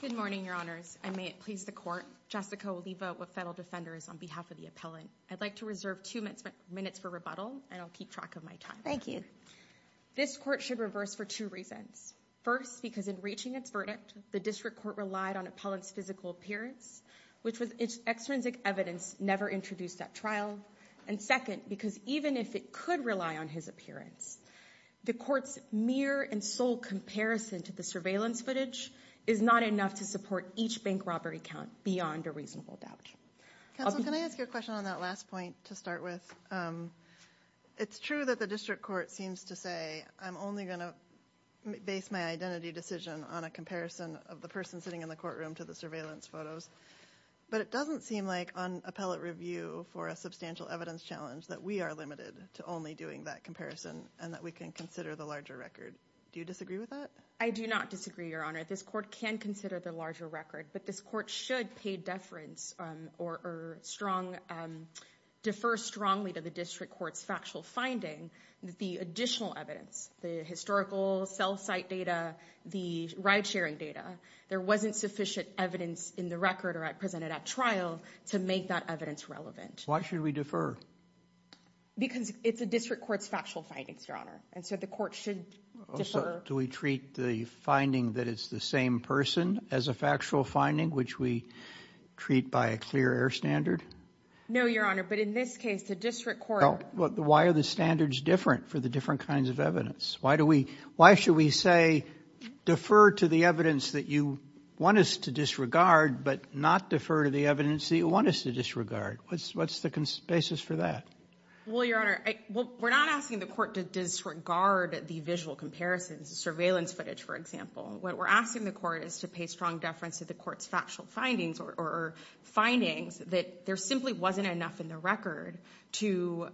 Good morning, Your Honors. And may it please the court, Jessica Oliva with Federal Defenders on behalf of the appellant. I'd like to reserve two minutes for rebuttal, and I'll keep track of my time. Thank you. This court should reverse for two reasons. First, because in reaching its verdict, the district court relied on appellant's physical appearance, which was extrinsic evidence never introduced at trial. And second, because even if it could rely on his appearance, the court's mere and sole comparison to the surveillance footage is not enough to support each bank robbery count beyond a reasonable doubt. Counsel, can I ask you a question on that last point to start with? It's true that the district court seems to say, I'm only going to base my identity decision on a comparison of the person sitting in the courtroom to the surveillance photos. But it doesn't seem like on appellate review for a substantial evidence challenge that we are limited to only doing that comparison and that we can consider the larger record. Do you disagree with that? I do not disagree, Your Honor. This court can consider the larger record, but this court should pay deference or defer strongly to the district court's factual finding that the additional evidence, the historical cell site data, the ride sharing data, there wasn't sufficient evidence in the record or presented at trial to make that evidence relevant. Why should we defer? Because it's a district court's factual findings, Your Honor. And so the court should defer. Do we treat the finding that it's the same person as a factual finding, which we treat by a clear air standard? No, Your Honor. But in this case, the district court... Why are the standards different for the different kinds of evidence? Why should we say, defer to the evidence that you want us to disregard, but not defer to the evidence that you want us to disregard? What's the basis for that? Well, Your Honor, we're not asking the court to disregard the visual comparisons, the surveillance footage, for example. What we're asking the court is to pay strong deference to the court's factual findings or findings that there simply wasn't enough in the record to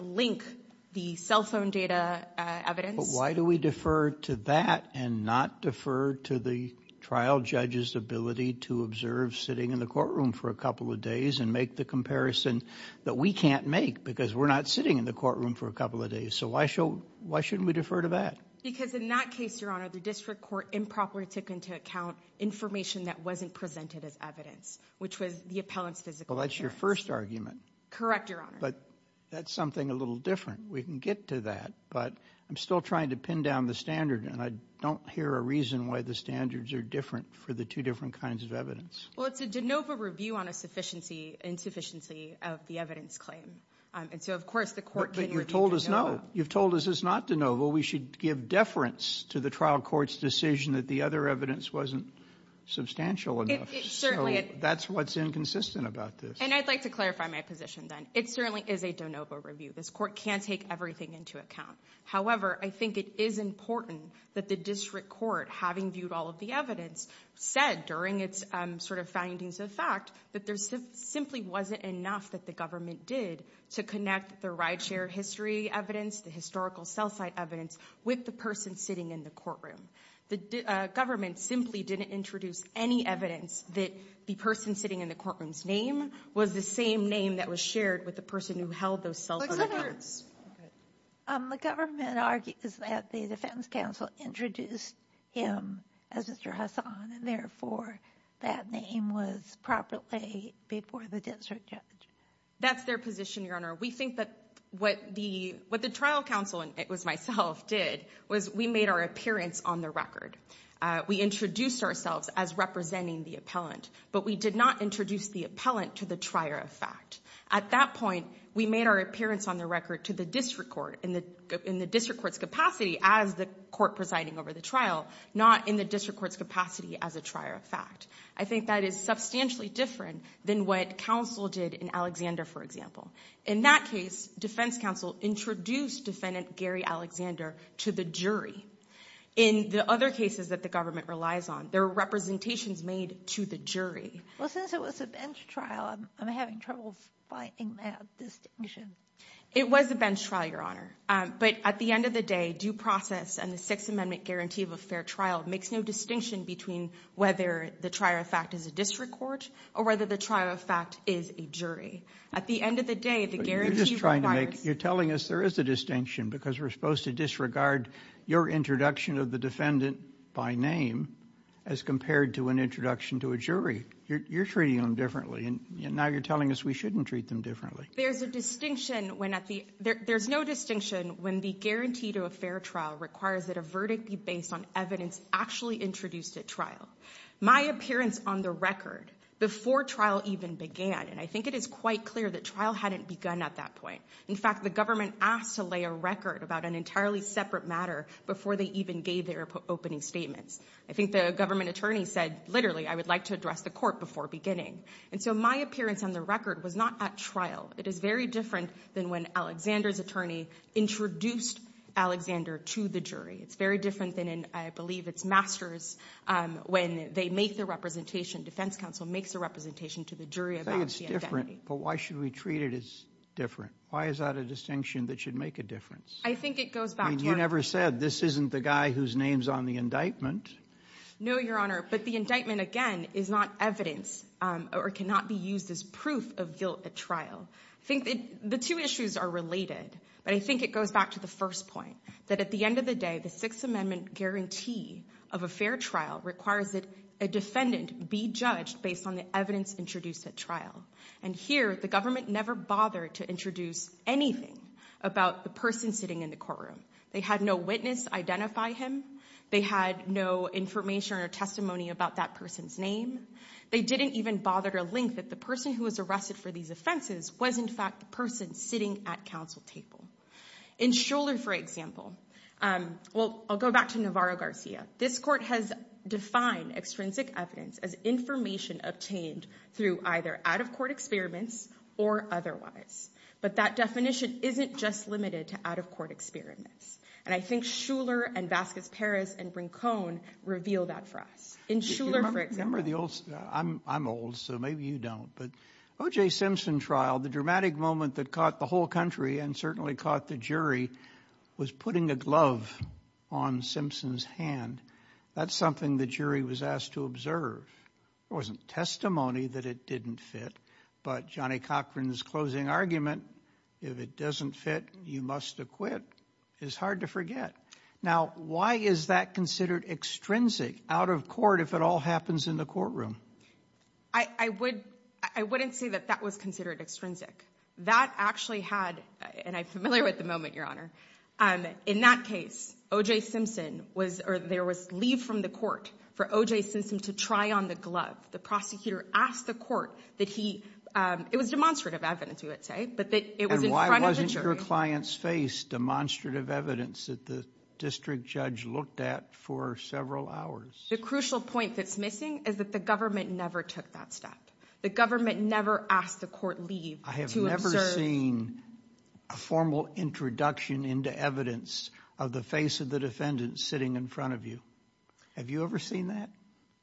link the cell phone data evidence. But why do we defer to that and not defer to the trial judge's ability to observe sitting in the courtroom for a couple of days and make the comparison that we can't make because we're not sitting in the courtroom for a couple of days? So why shouldn't we defer to that? Because in that case, Your Honor, the district court improperly took into account information that wasn't presented as evidence, which was the appellant's physical appearance. Well, that's your first argument. Correct, Your Honor. But that's something a little different. We can get to that. But I'm still trying to pin down the standard, and I don't hear a reason why the standards are different for the two different kinds of evidence. Well, it's a de novo review on a sufficiency, insufficiency of the evidence claim. And so, of course, the court can review de novo. But you've told us no. You've told us it's not de novo. We should give deference to the trial court's decision that the other evidence wasn't substantial enough. So that's what's inconsistent about this. And I'd like to clarify my position, then. It certainly is a de novo review. This court can take everything into account. However, I think it is important that the district court, having viewed all of the evidence, said during its sort of findings of fact that there simply wasn't enough that the government did to connect the rideshare history evidence, the historical sell-side evidence, with the person sitting in the courtroom. The government simply didn't introduce any evidence that the person sitting in the courtroom's name was the same name that was shared with the person who held those self-identified evidence. The government argues that the defense counsel introduced him as Mr. Hassan, and therefore that name was properly before the district judge. That's their position, Your Honor. We think that what the trial counsel, and it was myself, did was we made our appearance on the record. We introduced ourselves as representing the appellant, but we did not introduce the appellant to the trier of fact. At that point, we made our appearance on the record to the district court in the district court's capacity as the court presiding over the trial, not in the district court's capacity as a trier of fact. I think that is substantially different than what counsel did in Alexander, for example. In that case, defense counsel introduced defendant Gary Alexander to the jury. In the other cases that the government relies on, there are representations made to the jury. Well, since it was a bench trial, I'm having trouble finding that distinction. It was a bench trial, Your Honor, but at the end of the day, due process and the Sixth Amendment guarantee of a fair trial makes no distinction between whether the trier of fact is a district court or whether the trier of fact is a jury. At the end of the day, the guarantee requires... You're telling us there is a distinction because we're supposed to disregard your introduction of the defendant by name as compared to an introduction to a jury. You're treating them differently, and now you're telling us we shouldn't treat them differently. There's a distinction when at the... There's no distinction when the guarantee to a fair trial requires that a verdict be based on evidence actually introduced at trial. My appearance on the record before trial even began, and I think it is quite clear that trial hadn't begun at that point. In fact, the government asked to lay a record about an entirely separate matter before they even gave their opening statements. I think the government attorney said, literally, I would like to address the court before beginning. And so my appearance on the record was not at trial. It is very different than when Alexander's attorney introduced Alexander to the jury. It's very different than in, I believe, its masters when they make the representation, defense counsel makes a representation to the jury about the identity. I think it's different, but why should we treat it as different? Why is that a distinction that should make a difference? I think it goes back to... I mean, you never said this isn't the guy whose name's on the indictment. No, Your Honor, but the indictment, again, is not evidence or cannot be used as proof of guilt at trial. I think the two issues are related, but I think it goes back to the first point, that at the end of the day, the Sixth Amendment guarantee of a fair trial requires that a defendant be judged based on the evidence introduced at trial. And here, the government never bothered to introduce anything about the person sitting in the courtroom. They had no witness identify him. They had no information or testimony about that person's name. They didn't even bother to link that the person who was arrested for these offenses was, in fact, the person sitting at counsel table. In Shuler, for example, well, I'll go back to Navarro-Garcia. This court has defined extrinsic evidence as information obtained through either out-of-court experiments or otherwise. But that definition isn't just limited to out-of-court experiments. And I think Shuler and Vasquez-Perez and Brincone reveal that for us. In Shuler, for example... I'm old, so maybe you don't, but O.J. Simpson trial, the dramatic moment that caught the whole country and certainly caught the jury was putting a glove on Simpson's hand. That's what he was asked to observe. There wasn't testimony that it didn't fit, but Johnny Cochran's closing argument, if it doesn't fit, you must acquit, is hard to forget. Now, why is that considered extrinsic, out-of-court, if it all happens in the courtroom? I wouldn't say that that was considered extrinsic. That actually had, and I'm familiar with the moment, Your Honor. In that case, O.J. Simpson was, or there was leave from the court for O.J. Simpson to try on the glove. The prosecutor asked the court that he, it was demonstrative evidence, we would say, but that it was in front of the jury. And why wasn't your client's face demonstrative evidence that the district judge looked at for several hours? The crucial point that's missing is that the government never took that step. The government never asked the court leave to observe... ...introduction into evidence of the face of the defendant sitting in front of you. Have you ever seen that?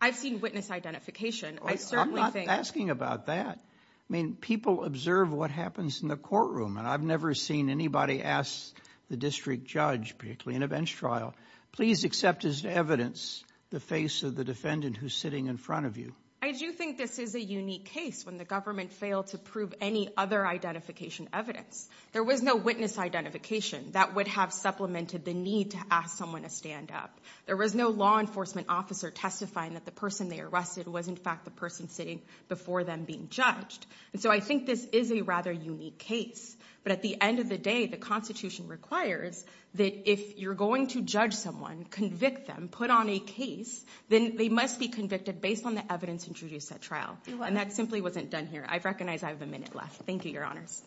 I've seen witness identification. I certainly think... I'm not asking about that. I mean, people observe what happens in the courtroom, and I've never seen anybody ask the district judge, particularly in a bench trial, please accept as evidence the face of the defendant who's sitting in front of you. I do think this is a unique case when the government failed to prove any other identification evidence. There was no witness identification that would have supplemented the need to ask someone to stand up. There was no law enforcement officer testifying that the person they arrested was in fact the person sitting before them being judged. And so I think this is a rather unique case. But at the end of the day, the Constitution requires that if you're going to judge someone, convict them, put on a case, then they must be convicted based on the evidence introduced at trial. And that simply wasn't done here. I recognize I have a minute left. Thank you, your honors.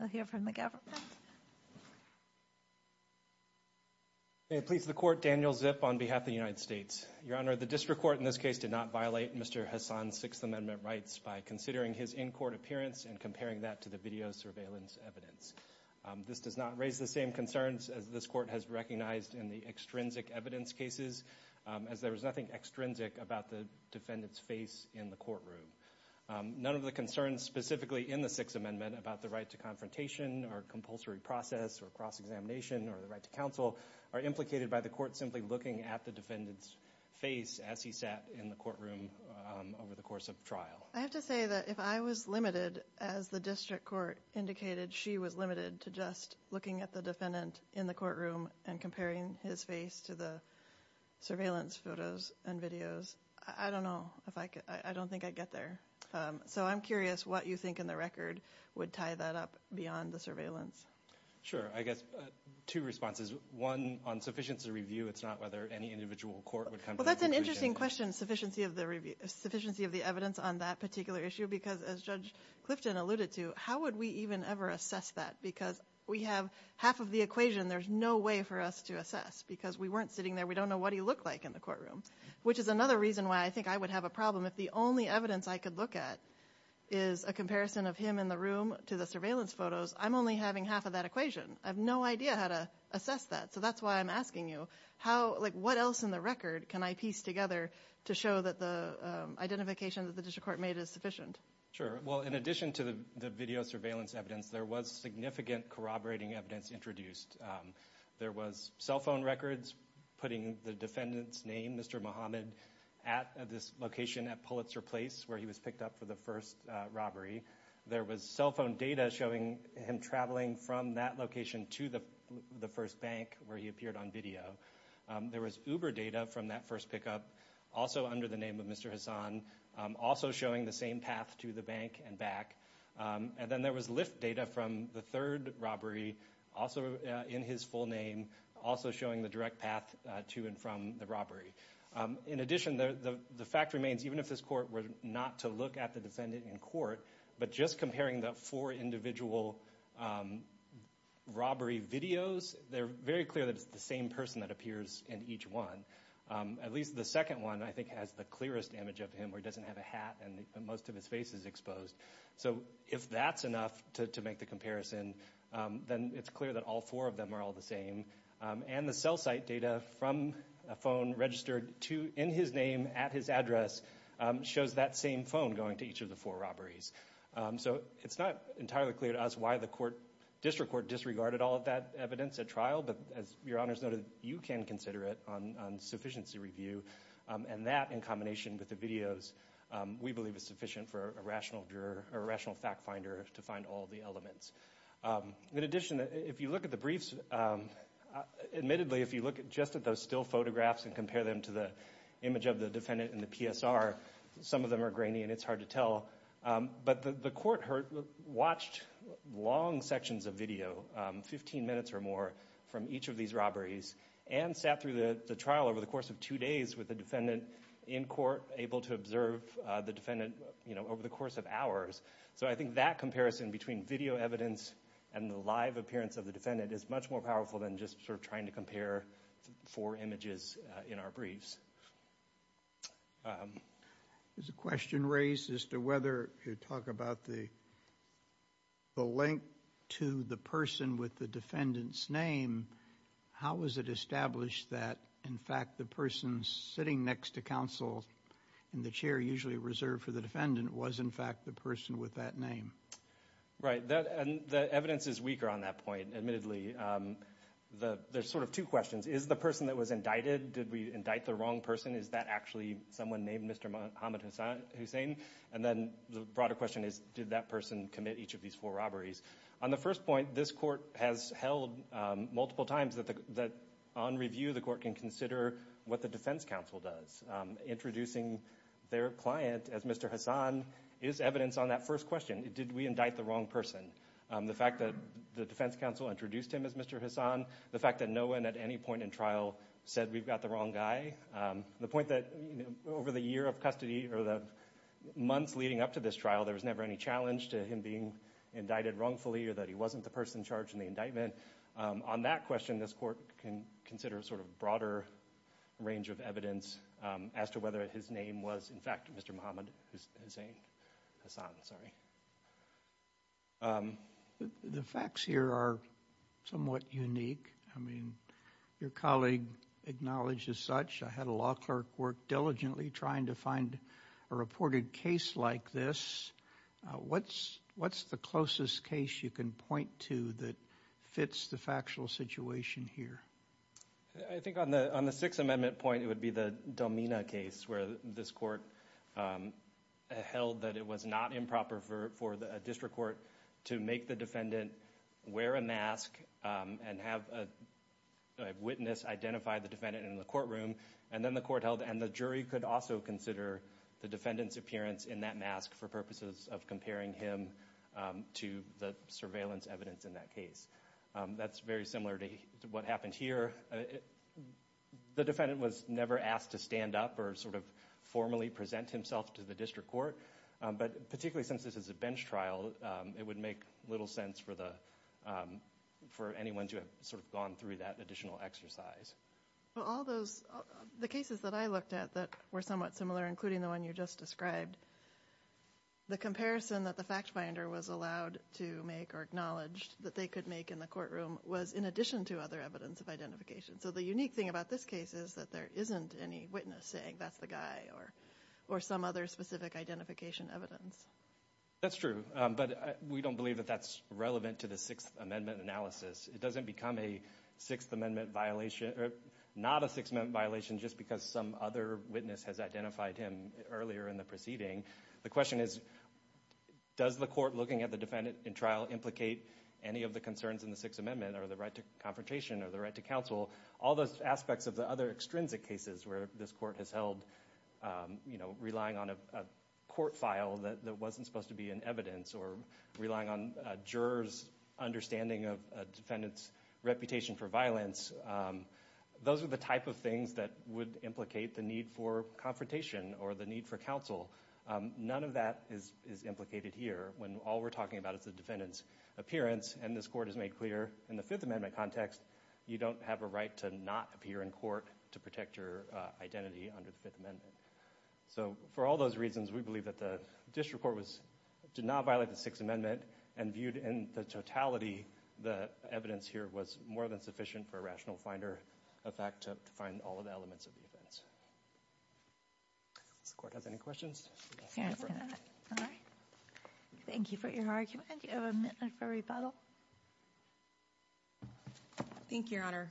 We'll hear from the governor. May it please the court, Daniel Zip on behalf of the United States. Your honor, the district court in this case did not violate Mr. Hassan's Sixth Amendment rights by considering his in-court appearance and comparing that to the video surveillance evidence. This does not raise the same concerns as this court has recognized in the extrinsic evidence cases, as there was nothing extrinsic about the defendant's face in the courtroom. None of the concerns specifically in the Sixth Amendment about the right to confrontation or compulsory process or cross-examination or the right to counsel are implicated by the court simply looking at the defendant's face as he sat in the courtroom over the course of trial. I have to say that if I was limited, as the district court indicated she was limited to just looking at the defendant in the courtroom and comparing his face to the surveillance photos and videos, I don't know if I could, I don't think I'd get there. So I'm curious what you think in the record would tie that up beyond the surveillance. Sure. I guess two responses. One, on sufficiency of review, it's not whether any individual court would come to that conclusion. Well, that's an interesting question, sufficiency of the review, sufficiency of the evidence on that particular issue, because as Judge Clifton alluded to, how would we even ever assess that, because we have half of the equation there's no way for us to assess, because we weren't sitting there, we don't know what he looked like in the courtroom, which is another reason why I think I would have a problem if the only evidence I could look at is a comparison of him in the room to the surveillance photos, I'm only having half of that equation. I have no idea how to assess that. So that's why I'm asking you, what else in the record can I piece together to show that the identification that the district court made is sufficient? Sure. Well, in addition to the video surveillance evidence, there was significant corroborating evidence introduced. There was cell phone records putting the defendant's name, Mr. Mohamed, at this location at Pulitzer Place where he was picked up for the first robbery. There was cell phone data showing him traveling from that location to the first bank where he appeared on video. There was Uber data from that first pickup, also under the name of Mr. Hassan, also showing the same path to the bank and back. And then there was Lyft data from the third robbery, also in his full name, also showing the direct path to and from the robbery. In addition, the fact remains, even if this court were not to look at the defendant in court, but just comparing the four individual robbery videos, they're very clear that it's the same person that appears in each one. At least the second one, I think, has the clearest image of him, where he doesn't have a hat and most of his face is exposed. So if that's enough to make the comparison, then it's clear that all four of them are all the same. And the cell site data from a phone registered in his name at his address shows that same phone going to each of the four robberies. So it's not entirely clear to us why the district court disregarded all of that evidence at trial, but as Your Honor has noted, you can consider it on sufficiency review, and that in combination with the videos, we believe is sufficient for a rational fact finder to find all the elements. In addition, if you look at the briefs, admittedly, if you look just at those still photographs and compare them to the image of the defendant in the PSR, some of them are grainy and it's hard to tell, but the court watched long sections of video, 15 minutes or more, from each of these robberies and sat through the trial over the course of two days with the defendant in court, able to observe the defendant over the course of hours. So I think that comparison between video evidence and the live appearance of the defendant is much more powerful than just sort of trying to compare four images in our briefs. Is the question raised as to whether you talk about the link to the person with the defendant's name, how was it established that, in fact, the person sitting next to counsel in the chair, usually reserved for the defendant, was, in fact, the person with that name? Right. And the evidence is weaker on that point, admittedly. There's sort of two questions. Is the person that was indicted, did we indict the wrong person? Is that actually someone named Mr. Muhammad Hussein? And then the broader question is, did that person commit each of the four robberies? On the first point, this court has held multiple times that, on review, the court can consider what the defense counsel does. Introducing their client as Mr. Hassan is evidence on that first question. Did we indict the wrong person? The fact that the defense counsel introduced him as Mr. Hassan, the fact that no one at any point in trial said we've got the wrong guy, the point that over the year of custody or the months leading up to this trial, there was never any challenge to him being indicted wrongfully or that he wasn't the person charged in the indictment. On that question, this court can consider a sort of broader range of evidence as to whether his name was, in fact, Mr. Muhammad Hussein, Hassan, sorry. The facts here are somewhat unique. I mean, your colleague acknowledged as such. I had a law clerk work diligently trying to find a reported case like this. What's the closest case you can point to that fits the factual situation here? I think on the Sixth Amendment point, it would be the Domina case where this court held that it was not improper for a district court to make the defendant wear a mask and have a witness identify the defendant in the courtroom, and then the court held, and the jury could also consider the defendant's appearance in that mask for purposes of comparing him to the surveillance evidence in that case. That's very similar to what happened here. The defendant was never asked to stand up or sort of formally present himself to the district court, but particularly since this is a bench trial, it would make little sense for anyone to have gone through that additional exercise. Well, the cases that I looked at that were somewhat similar, including the one you just described, the comparison that the fact finder was allowed to make or acknowledged that they could make in the courtroom was in addition to other evidence of identification. So the unique thing about this case is that there isn't any witness saying that's the guy or some other specific identification evidence. That's true, but we don't believe that that's relevant to the Sixth Amendment analysis. It doesn't become a Sixth Amendment violation or not a Sixth Amendment violation just because some other witness has identified him earlier in the proceeding. The question is, does the court looking at the defendant in trial implicate any of the concerns in the Sixth Amendment or the right to confrontation or the right to counsel? All those aspects of the other extrinsic cases where this court has held, you know, relying on a court file that wasn't supposed to be in evidence or jurors' understanding of a defendant's reputation for violence, those are the type of things that would implicate the need for confrontation or the need for counsel. None of that is implicated here when all we're talking about is the defendant's appearance, and this court has made clear in the Fifth Amendment context, you don't have a right to not appear in court to protect your identity under the Fifth Amendment. So for all those reasons, we believe that the district court did not violate the Sixth Amendment and viewed in the totality the evidence here was more than sufficient for a rational finder of fact to find all of the elements of the offense. Does the court have any questions? Thank you for your argument. Do you have a minute for rebuttal? Thank you, Your Honor.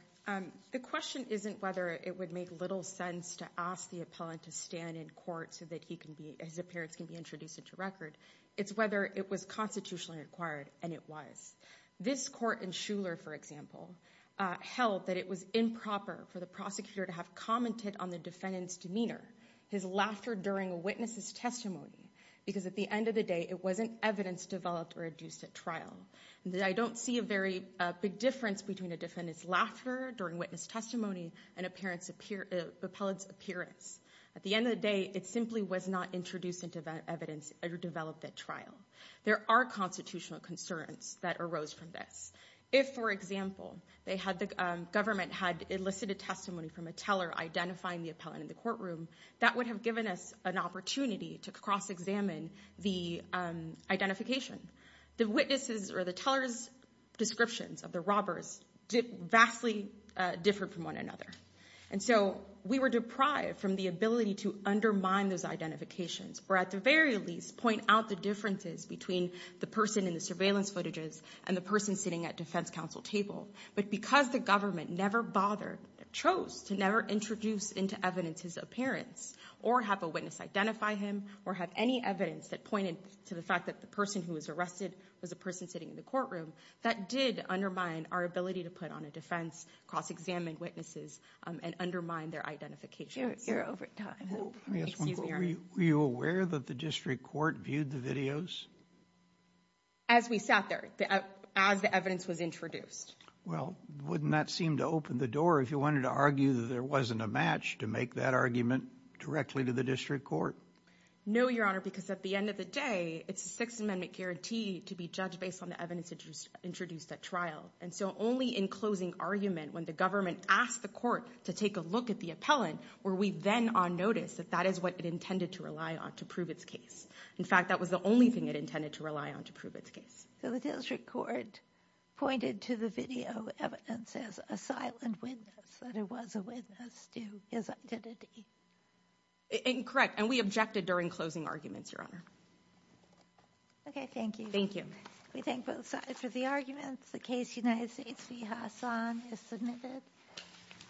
The question isn't whether it would make little sense to ask the appellant to stand in court so that he can be, his appearance can be introduced into record. It's whether it was constitutionally required, and it was. This court in Shuler, for example, held that it was improper for the prosecutor to have commented on the defendant's demeanor, his laughter during a witness's testimony, because at the end of the day, it wasn't evidence developed or adduced at trial. I don't see a very big difference between a defendant's laughter during witness testimony and an appellant's appearance. At the end of the day, it simply was not introduced into evidence or developed at trial. There are constitutional concerns that arose from this. If, for example, the government had elicited testimony from a teller identifying the appellant in the courtroom, that would have given us an opportunity to cross-examine the identification. The witnesses or the teller's descriptions of the robbers vastly differ from one another. And so we were deprived from the ability to undermine those identifications or at the very least point out the differences between the person in the surveillance footages and the person sitting at defense counsel table. But because the government never bothered, chose to never introduce into evidence his appearance or have a witness identify him or have any evidence that pointed to the fact that the person who was arrested was a person sitting in the courtroom, that did undermine our ability to put on a defense, cross-examine witnesses, and undermine their identification. You're over time. Excuse me. Were you aware that the district court viewed the videos? As we sat there, as the evidence was introduced. Well, wouldn't that seem to open the door if you wanted to argue that there wasn't a match to make that argument directly to the district court? No, your honor, because at the end of the day, it's a sixth amendment guarantee to be judged based on the evidence introduced at trial. And so only in closing argument, when the government asked the court to take a look at the appellant, were we then on notice that that is what it intended to rely on to prove its case. In fact, that was the only thing it intended to rely on to prove its case. So the district court pointed to the video evidence as a silent witness, that it was a witness to his identity. Correct, and we objected during closing arguments, your honor. Okay, thank you. Thank you. We thank both sides for the arguments. The case United States v. Hassan is submitted.